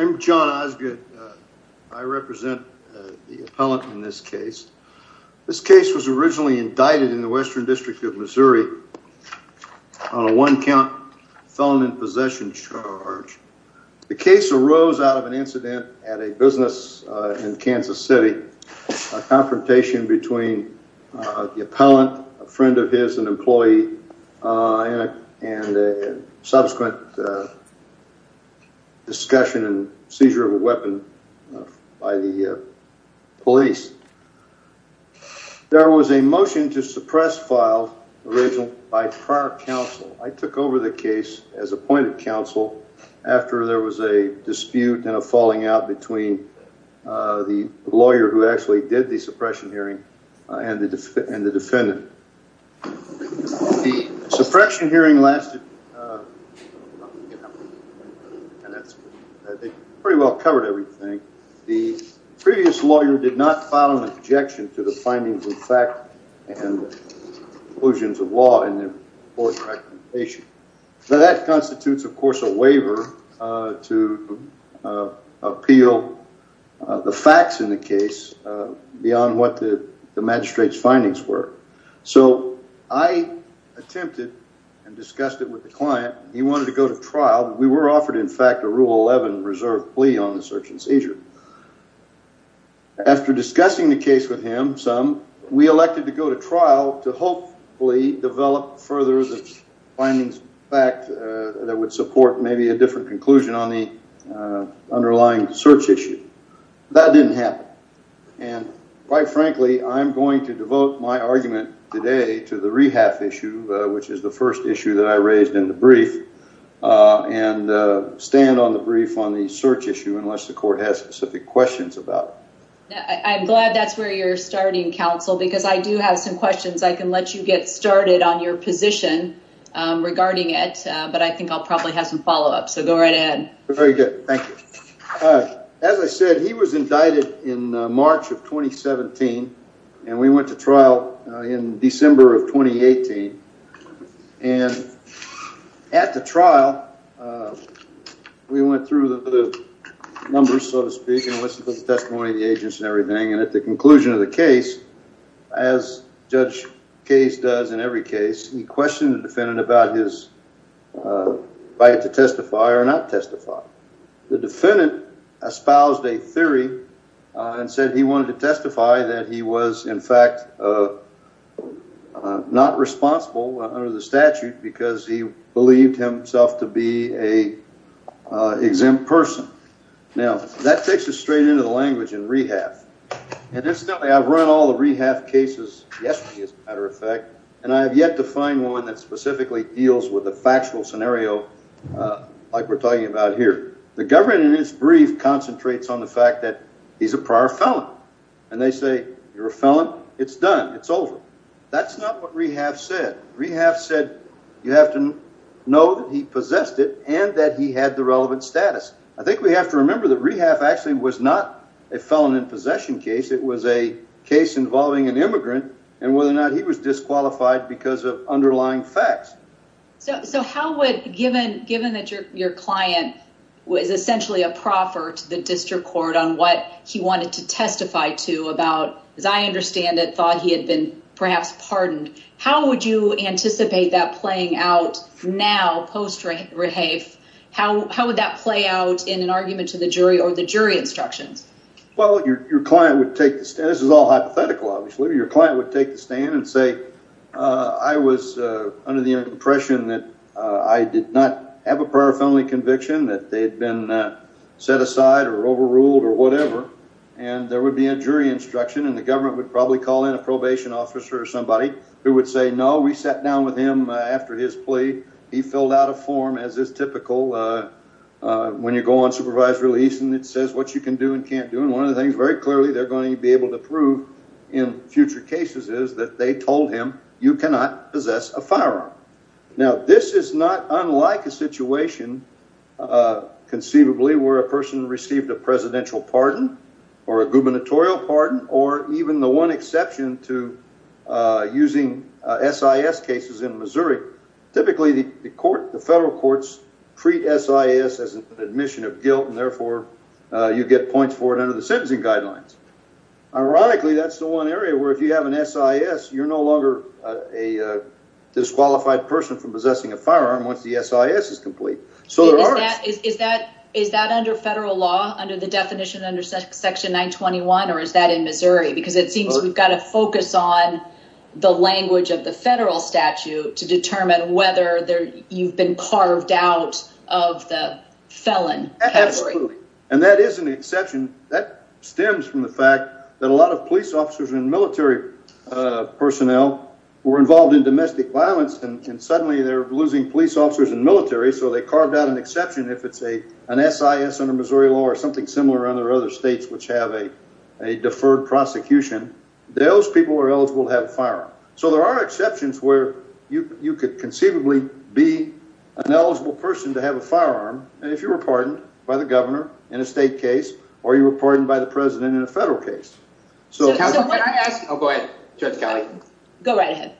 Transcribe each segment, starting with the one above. I'm John Osgood. I represent the appellant in this case. This case was originally indicted in the Western District of Missouri on a warrant for murder. felon in possession charge. The case arose out of an incident at a business in Kansas City, a confrontation between the appellant, a friend of his, an employee, and subsequent discussion and seizure of a weapon by the police. There was a motion to suppress file original by prior counsel. I took over the case as appointed counsel after there was a dispute and a falling out between the lawyer who actually did the suppression hearing and the defendant. The suppression hearing lasted, I think, pretty well covered everything. The previous lawyer did not file an objection to the findings of fact and conclusions of law in the court's recommendation. That constitutes, of course, a waiver to appeal the facts in the case beyond what the magistrate's findings were. So I attempted and discussed it with the client. He wanted to go to trial. We were offered, in fact, a Rule 11 reserve plea on the search and seizure. After discussing the case with him, some, we elected to go to trial to hopefully develop further the findings of fact that would support maybe a different conclusion on the underlying search issue. That didn't happen. And quite frankly, I'm going to devote my argument today to the rehab issue, which is the first issue that I raised in the brief and stand on the brief on the search issue unless the court has specific questions about it. I'm glad that's where you're starting, counsel, because I do have some questions. I can let you get started on your position regarding it, but I think I'll probably have some follow up. So go right ahead. Very good. Thank you. As I said, he was indicted in March of 2017, and we went to trial in December of 2018. And at the trial, we went through the numbers, so to speak, and listened to the testimony of the agents and everything. And at the conclusion of the case, as Judge Case does in every case, he questioned the defendant about his right to testify or not testify. The defendant espoused a theory and said he wanted to testify that he was, in fact, not responsible under the statute because he believed himself to be an exempt person. Now, that takes us straight into the language in rehab. And incidentally, I've run all the rehab cases yesterday, as a matter of fact, and I have yet to find one that specifically deals with the factual scenario like we're talking about here. The government, in its brief, concentrates on the fact that he's a prior felon. And they say, you're a felon. It's done. It's over. That's not what rehab said. Rehab said you have to know that he possessed it and that he had the relevant status. I think we have to remember that rehab actually was not a felon in possession case. It was a case involving an immigrant and whether or not he was disqualified because of underlying facts. So how would, given that your client was essentially a proffer to the district court on what he wanted to testify to about, as I understand it, thought he had been perhaps pardoned, how would you anticipate that playing out now post-rehab? How would that play out in an argument to the jury or the jury instructions? Well, your client would take the stand. This is all hypothetical, obviously. Your client would take the stand and say, I was under the impression that I did not have a prior felony conviction, that they had been set aside or overruled or whatever. And there would be a jury instruction and the government would probably call in a probation officer or somebody who would say, no, we sat down with him after his plea. He filled out a form as is typical when you go on supervised release and it says what you can do and can't do. And one of the things very clearly they're going to be able to prove in future cases is that they told him you cannot possess a firearm. Now, this is not unlike a situation conceivably where a person received a presidential pardon or a gubernatorial pardon or even the one exception to using SIS cases in Missouri. Typically, the court, the federal courts treat SIS as an admission of guilt and therefore you get points for it under the sentencing guidelines. Ironically, that's the one area where if you have an SIS, you're no longer a disqualified person from possessing a firearm once the SIS is complete. Is that under federal law, under the definition under section 921 or is that in Missouri? Because it seems we've got to focus on the language of the federal statute to determine whether you've been carved out of the felon category. Absolutely. And that is an exception. That stems from the fact that a lot of police officers and military personnel were involved in domestic violence and suddenly they're losing police officers and military so they carved out an exception if it's an SIS under Missouri law or something similar under other states which have a deferred prosecution. Those people are eligible to have a firearm. So there are exceptions where you could conceivably be an eligible person to have a firearm and if you were pardoned by the governor in a state case or you were pardoned by the president in a federal case. Go right ahead.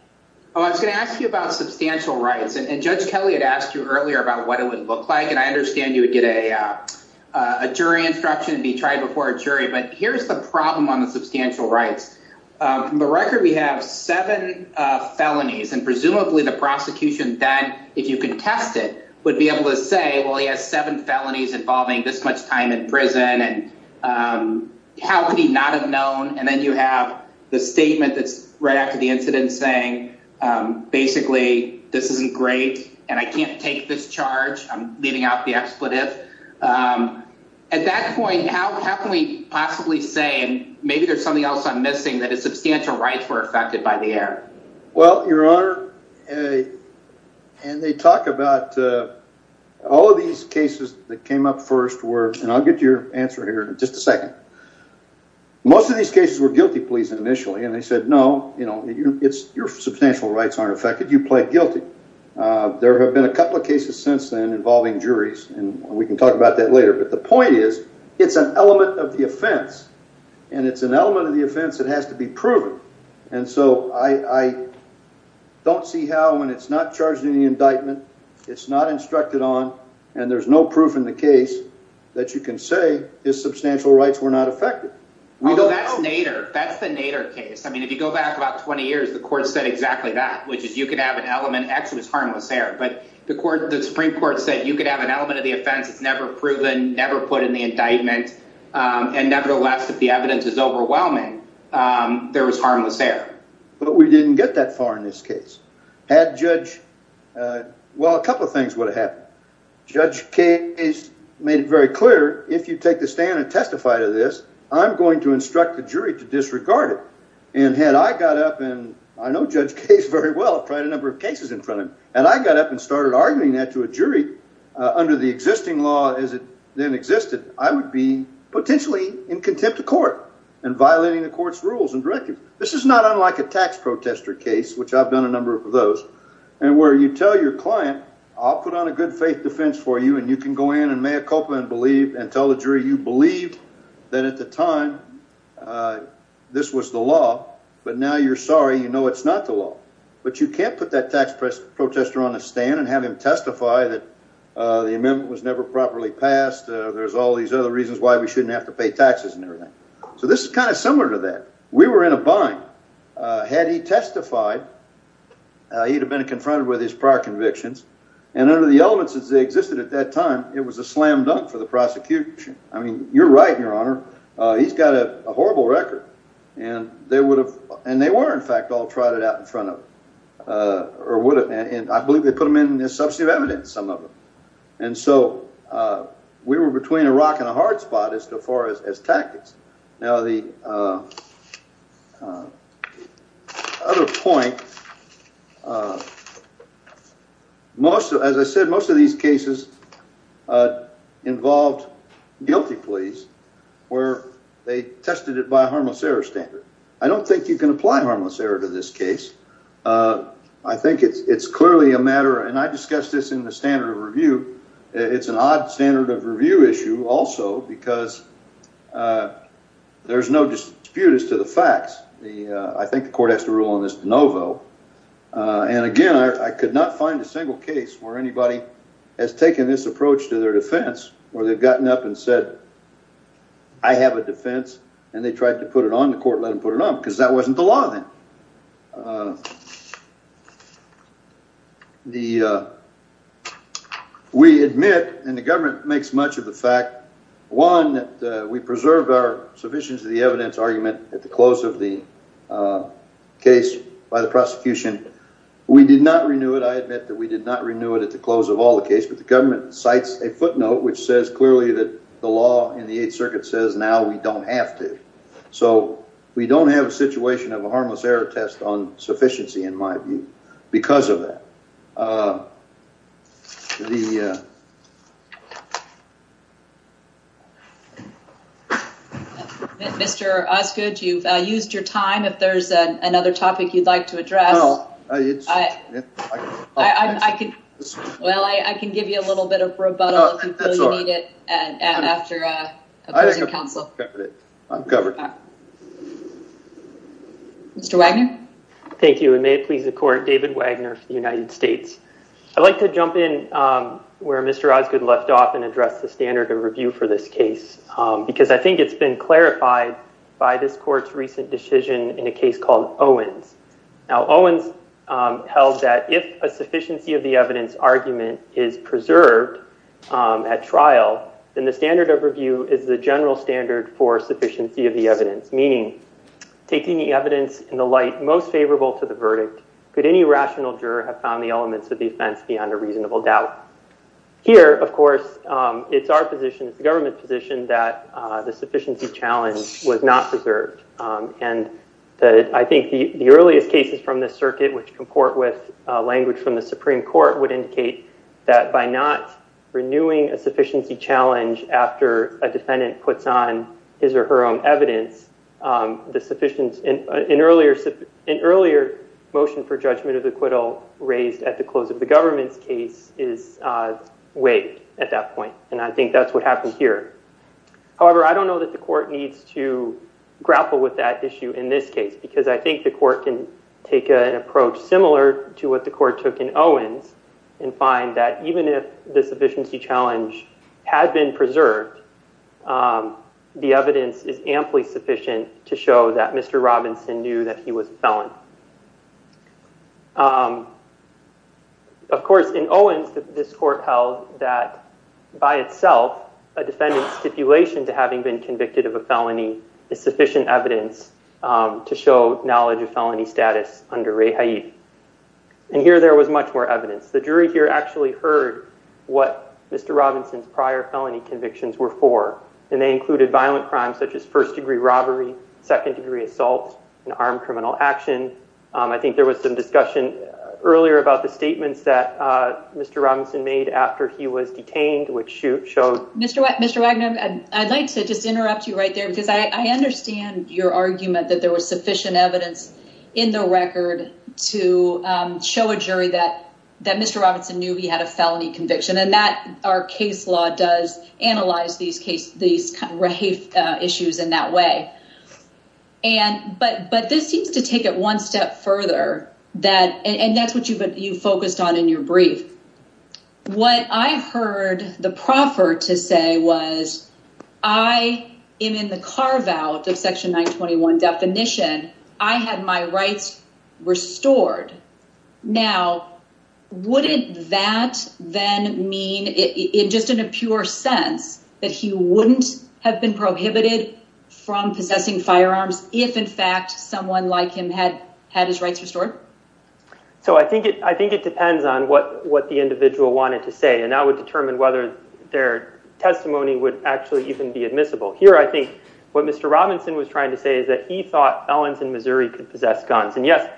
I was going to ask you about substantial rights and Judge Kelly had asked you earlier about what it would look like. And I understand you would get a jury instruction to be tried before a jury. But here's the problem on the substantial rights from the record. We have seven felonies and presumably the prosecution that if you can test it would be able to say, well, he has seven felonies involving this much time in prison. And how could he not have known. And then you have the statement that's right after the incident saying basically this isn't great and I can't take this charge. I'm leaving out the expletive. At that point how can we possibly say maybe there's something else I'm missing that is substantial rights were affected by the error. Well, your honor. And they talk about all of these cases that came up first were and I'll get your answer here in just a second. Most of these cases were guilty pleas initially and they said no, you know, it's your substantial rights aren't affected you play guilty. There have been a couple of cases since then involving juries, and we can talk about that later. But the point is, it's an element of the offense, and it's an element of the offense that has to be proven. And so I don't see how when it's not charged in the indictment. It's not instructed on, and there's no proof in the case that you can say is substantial rights were not affected. Well, that's the Nader case. I mean, if you go back about 20 years, the court said exactly that, which is you could have an element actually was harmless error, but the Supreme Court said you could have an element of the offense. It's never proven, never put in the indictment. And nevertheless, if the evidence is overwhelming, there was harmless error, but we didn't get that far in this case. Well, a couple of things would have happened. Judge case made it very clear. If you take the stand and testify to this, I'm going to instruct the jury to disregard it. And had I got up and I know Judge Case very well, tried a number of cases in front of him, and I got up and started arguing that to a jury under the existing law as it then existed, I would be potentially in contempt of court and violating the court's rules and directive. This is not unlike a tax protester case, which I've done a number of those. And where you tell your client, I'll put on a good faith defense for you, and you can go in and mea culpa and believe and tell the jury you believed that at the time this was the law. But now you're sorry. You know, it's not the law, but you can't put that tax press protester on a stand and have him testify that the amendment was never properly passed. There's all these other reasons why we shouldn't have to pay taxes and everything. So this is kind of similar to that. We were in a bind. Had he testified, he'd have been confronted with his prior convictions. And under the elements as they existed at that time, it was a slam dunk for the prosecution. I mean, you're right, Your Honor. He's got a horrible record. And they would have. And they were, in fact, all tried it out in front of or would have. And I believe they put them in this substantive evidence, some of them. And so we were between a rock and a hard spot as far as tactics. Now, the other point most of, as I said, most of these cases involved guilty pleas where they tested it by harmless error standard. I don't think you can apply harmless error to this case. I think it's clearly a matter. And I discussed this in the standard of review. It's an odd standard of review issue also, because there's no dispute as to the facts. I think the court has to rule on this de novo. And again, I could not find a single case where anybody has taken this approach to their defense or they've gotten up and said, I have a defense. And they tried to put it on. The court let them put it on because that wasn't the law then. We admit, and the government makes much of the fact, one, that we preserved our sufficient to the evidence argument at the close of the case by the prosecution. We did not renew it. I admit that we did not renew it at the close of all the case. But the government cites a footnote which says clearly that the law in the Eighth Circuit says now we don't have to. So we don't have a situation of a harmless error test on sufficiency in my view because of that. Thank you. Mr. Osgood, you've used your time. If there's another topic you'd like to address. Well, I can give you a little bit of rebuttal if you need it after opposing counsel. I'm covered. Mr. Wagner. Thank you. And may it please the court, David Wagner for the United States. I'd like to jump in where Mr. Osgood left off and address the standard of review for this case because I think it's been clarified by this court's recent decision in a case called Owens. Now, Owens held that if a sufficiency of the evidence argument is preserved at trial, then the standard of review is the general standard for sufficiency of the evidence. Meaning, taking the evidence in the light most favorable to the verdict, could any rational juror have found the elements of the offense beyond a reasonable doubt? Here, of course, it's our position, the government's position, that the sufficiency challenge was not preserved. And I think the earliest cases from this circuit which comport with language from the Supreme Court would indicate that by not renewing a sufficiency challenge after a defendant puts on his or her own evidence, an earlier motion for judgment of the acquittal raised at the close of the government's case is waived at that point. And I think that's what happened here. However, I don't know that the court needs to grapple with that issue in this case because I think the court can take an approach similar to what the court took in Owens and find that even if the sufficiency challenge had been preserved, the evidence is amply sufficient to show that Mr. Robinson knew that he was a felon. Of course, in Owens, this court held that by itself, a defendant's stipulation to having been convicted of a felony is sufficient evidence to show knowledge of felony status under Rae Haidt. And here there was much more evidence. The jury here actually heard what Mr. Robinson's prior felony convictions were for. And they included violent crimes such as first-degree robbery, second-degree assault, and armed criminal action. I think there was some discussion earlier about the statements that Mr. Robinson made after he was detained, which showed... ...that Mr. Robinson knew he had a felony conviction and that our case law does analyze these Rae Haidt issues in that way. But this seems to take it one step further. And that's what you focused on in your brief. What I heard the proffer to say was, I am in the carve-out of Section 921 definition. I had my rights restored. Now, wouldn't that then mean, in just a pure sense, that he wouldn't have been prohibited from possessing firearms if, in fact, someone like him had his rights restored? So I think it depends on what the individual wanted to say. And that would determine whether their testimony would actually even be admissible. Here I think what Mr. Robinson was trying to say is that he thought felons in Missouri could possess guns. And yes,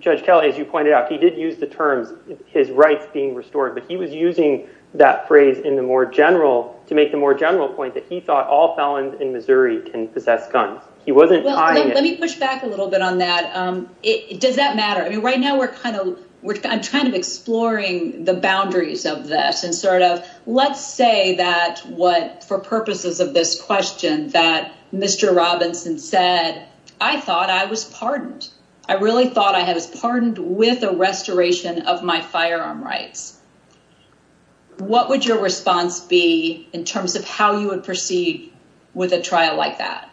Judge Kelly, as you pointed out, he did use the terms, his rights being restored. But he was using that phrase to make the more general point that he thought all felons in Missouri can possess guns. He wasn't tying it. Let me push back a little bit on that. Does that matter? I mean, right now we're kind of we're kind of exploring the boundaries of this and sort of let's say that what for purposes of this question that Mr. Robinson said, I thought I was pardoned. I really thought I had was pardoned with a restoration of my firearm rights. What would your response be in terms of how you would proceed with a trial like that?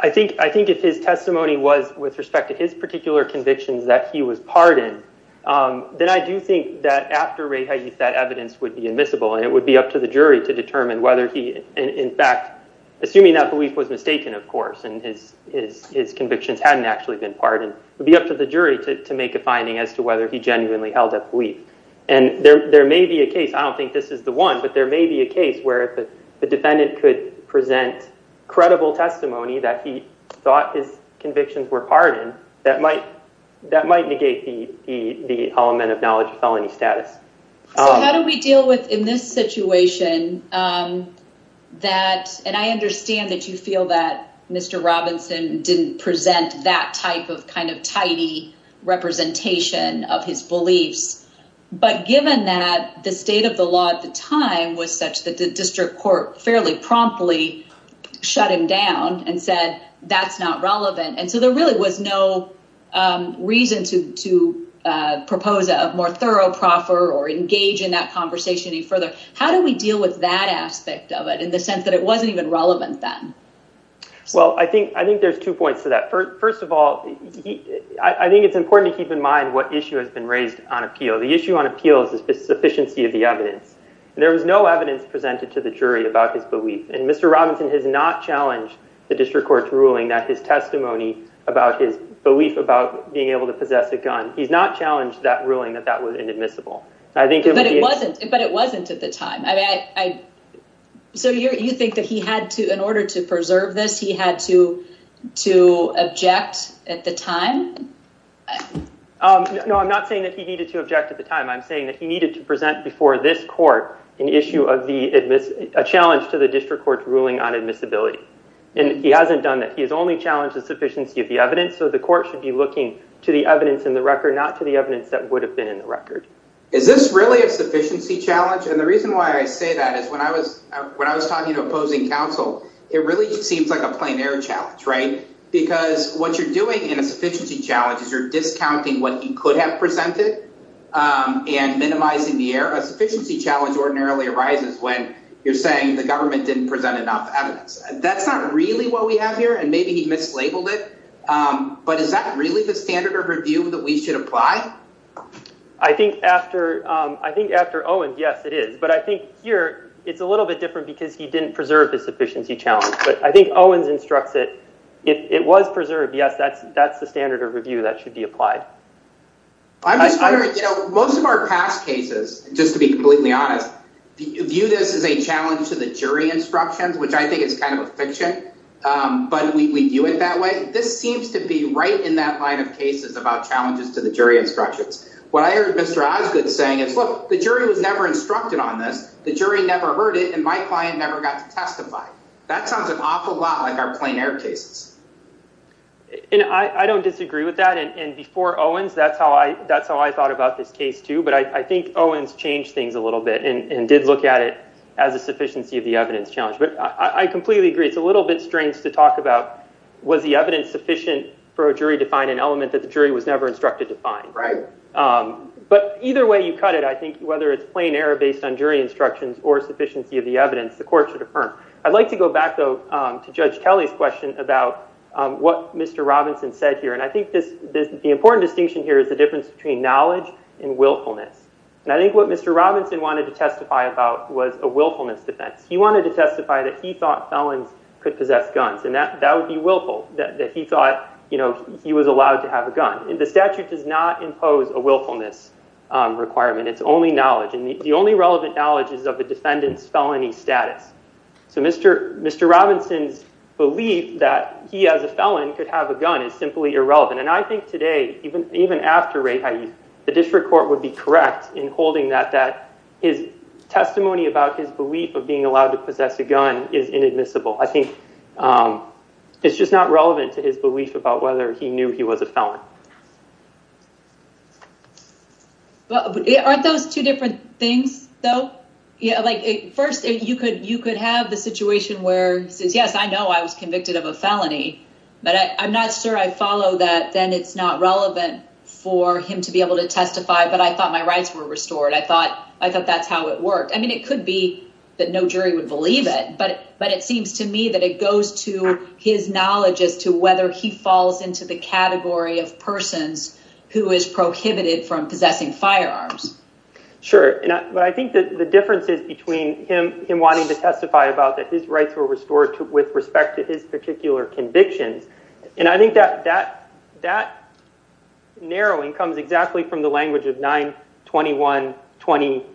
I think I think if his testimony was with respect to his particular convictions that he was pardoned, then I do think that after that evidence would be admissible and it would be up to the jury to determine whether he in fact, assuming that belief was mistaken, of course, and his his his convictions hadn't actually been pardoned would be up to the jury to make a finding as to whether he genuinely held that belief. And there may be a case. I don't think this is the one, but there may be a case where the defendant could present credible testimony that he thought his convictions were pardoned that might that might negate the element of knowledge of felony status. How do we deal with in this situation that and I understand that you feel that Mr. Robinson didn't present that type of kind of tidy representation of his beliefs. But given that the state of the law at the time was such that the district court fairly promptly shut him down and said that's not relevant. And so there really was no reason to to propose a more thorough proffer or engage in that conversation any further. How do we deal with that aspect of it in the sense that it wasn't even relevant then? Well, I think I think there's two points to that. First of all, I think it's important to keep in mind what issue has been raised on appeal. The issue on appeals is the sufficiency of the evidence. There was no evidence presented to the jury about his belief. And Mr. Robinson has not challenged the district court's ruling that his testimony about his belief about being able to possess a gun. He's not challenged that ruling that that was inadmissible. But it wasn't. But it wasn't at the time. So you think that he had to in order to preserve this, he had to to object at the time? No, I'm not saying that he needed to object at the time. I'm saying that he needed to present before this court an issue of a challenge to the district court's ruling on admissibility. And he hasn't done that. He has only challenged the sufficiency of the evidence. So the court should be looking to the evidence in the record, not to the evidence that would have been in the record. Is this really a sufficiency challenge? And the reason why I say that is when I was when I was talking to opposing counsel, it really seems like a plein air challenge, right? Because what you're doing in a sufficiency challenge is you're discounting what he could have presented and minimizing the air. A sufficiency challenge ordinarily arises when you're saying the government didn't present enough evidence. That's not really what we have here. And maybe he mislabeled it. But is that really the standard of review that we should apply? I think after Owens, yes, it is. But I think here it's a little bit different because he didn't preserve the sufficiency challenge. But I think Owens instructs it. It was preserved. Yes, that's the standard of review that should be applied. Most of our past cases, just to be completely honest, view this as a challenge to the jury instructions, which I think is kind of a fiction. But we view it that way. This seems to be right in that line of cases about challenges to the jury instructions. What I heard Mr. Osgood saying is, look, the jury was never instructed on this. The jury never heard it. And my client never got to testify. That sounds an awful lot like our plein air cases. And I don't disagree with that. And before Owens, that's how I thought about this case, too. But I think Owens changed things a little bit and did look at it as a sufficiency of the evidence challenge. But I completely agree, it's a little bit strange to talk about was the evidence sufficient for a jury to find an element that the jury was never instructed to find. But either way you cut it, I think, whether it's plein air based on jury instructions or sufficiency of the evidence, the court should affirm. I'd like to go back, though, to Judge Kelly's question about what Mr. Robinson said here. And I think the important distinction here is the difference between knowledge and willfulness. And I think what Mr. Robinson wanted to testify about was a willfulness defense. He wanted to testify that he thought felons could possess guns. And that would be willful, that he thought he was allowed to have a gun. The statute does not impose a willfulness requirement. It's only knowledge. And the only relevant knowledge is of a defendant's felony status. So Mr. Robinson's belief that he, as a felon, could have a gun is simply irrelevant. And I think today, even after Rae Hayes, the district court would be correct in holding that his testimony about his belief of being allowed to possess a gun is inadmissible. I think it's just not relevant to his belief about whether he knew he was a felon. Aren't those two different things, though? First, you could have the situation where he says, yes, I know I was convicted of a felony, but I'm not sure I follow that. Then it's not relevant for him to be able to testify. But I thought my rights were restored. I thought that's how it worked. I mean, it could be that no jury would believe it. But it seems to me that it goes to his knowledge as to whether he falls into the category of persons who is prohibited from possessing firearms. Sure. But I think the difference is between him wanting to testify about that his rights were restored with respect to his particular convictions. And I think that narrowing comes exactly from the language of 921A20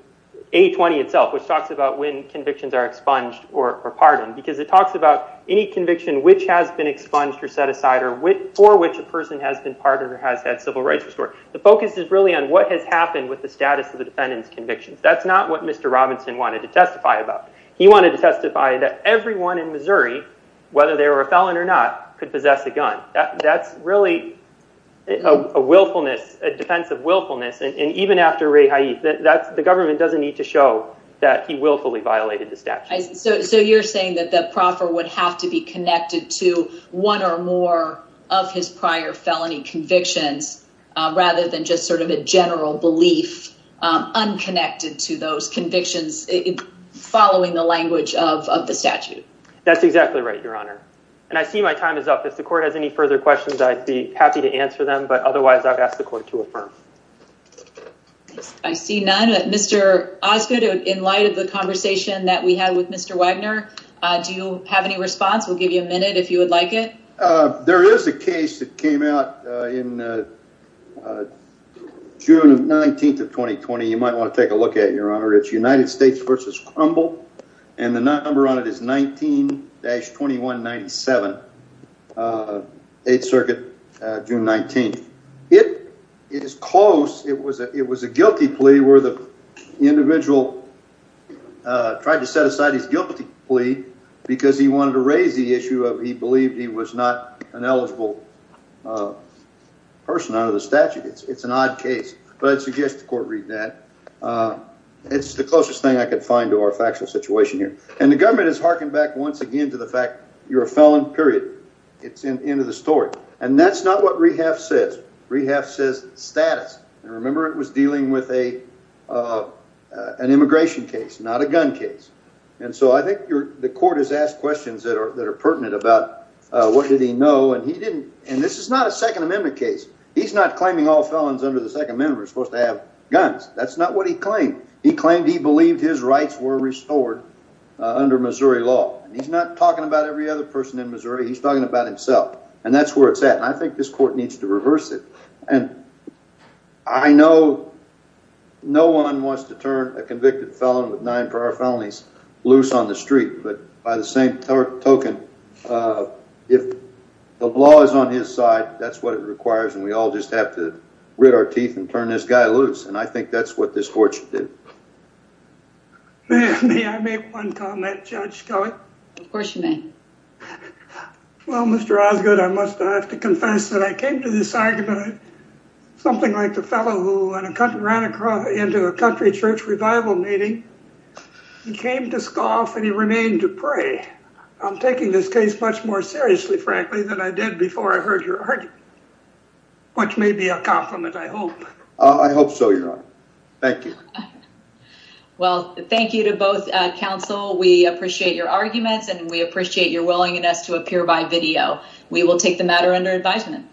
itself, which talks about when convictions are expunged or pardoned. Because it talks about any conviction which has been expunged or set aside or for which a person has been pardoned or has had civil rights restored. The focus is really on what has happened with the status of the defendant's convictions. That's not what Mr. Robinson wanted to testify about. He wanted to testify that everyone in Missouri, whether they were a felon or not, could possess a gun. That's really a defense of willfulness. And even after Rae Haith, the government doesn't need to show that he willfully violated the statute. So you're saying that the proffer would have to be connected to one or more of his prior felony convictions rather than just sort of a general belief unconnected to those convictions following the language of the statute. That's exactly right, Your Honor. And I see my time is up. If the court has any further questions, I'd be happy to answer them. But otherwise, I've asked the court to affirm. I see none. Mr. Osgood, in light of the conversation that we had with Mr. Wagner, do you have any response? We'll give you a minute if you would like it. There is a case that came out in June 19th of 2020. You might want to take a look at it, Your Honor. It's United States v. Crumble. And the number on it is 19-2197, 8th Circuit, June 19th. It is close. It was a guilty plea where the individual tried to set aside his guilty plea because he wanted to raise the issue of he believed he was not an eligible person under the statute. It's an odd case, but I'd suggest the court read that. It's the closest thing I could find to our factual situation here. And the government has harkened back once again to the fact you're a felon, period. It's the end of the story. And that's not what Rehaft says. Rehaft says status. And remember, it was dealing with an immigration case, not a gun case. And so I think the court has asked questions that are pertinent about what did he know. And this is not a Second Amendment case. He's not claiming all felons under the Second Amendment were supposed to have guns. That's not what he claimed. He claimed he believed his rights were restored under Missouri law. And he's not talking about every other person in Missouri. He's talking about himself. And that's where it's at. I think this court needs to reverse it. And I know no one wants to turn a convicted felon with nine prior felonies loose on the street. But by the same token, if the law is on his side, that's what it requires. And we all just have to grit our teeth and turn this guy loose. And I think that's what this court should do. May I make one comment, Judge Skelley? Of course you may. Well, Mr. Osgood, I must have to confess that I came to this argument, something like the fellow who ran into a country church revival meeting, came to scoff and he remained to pray. I'm taking this case much more seriously, frankly, than I did before I heard your argument, which may be a compliment, I hope. I hope so, Your Honor. Thank you. Well, thank you to both counsel. We appreciate your arguments and we appreciate your willingness to appear by video. We will take the matter under advisement.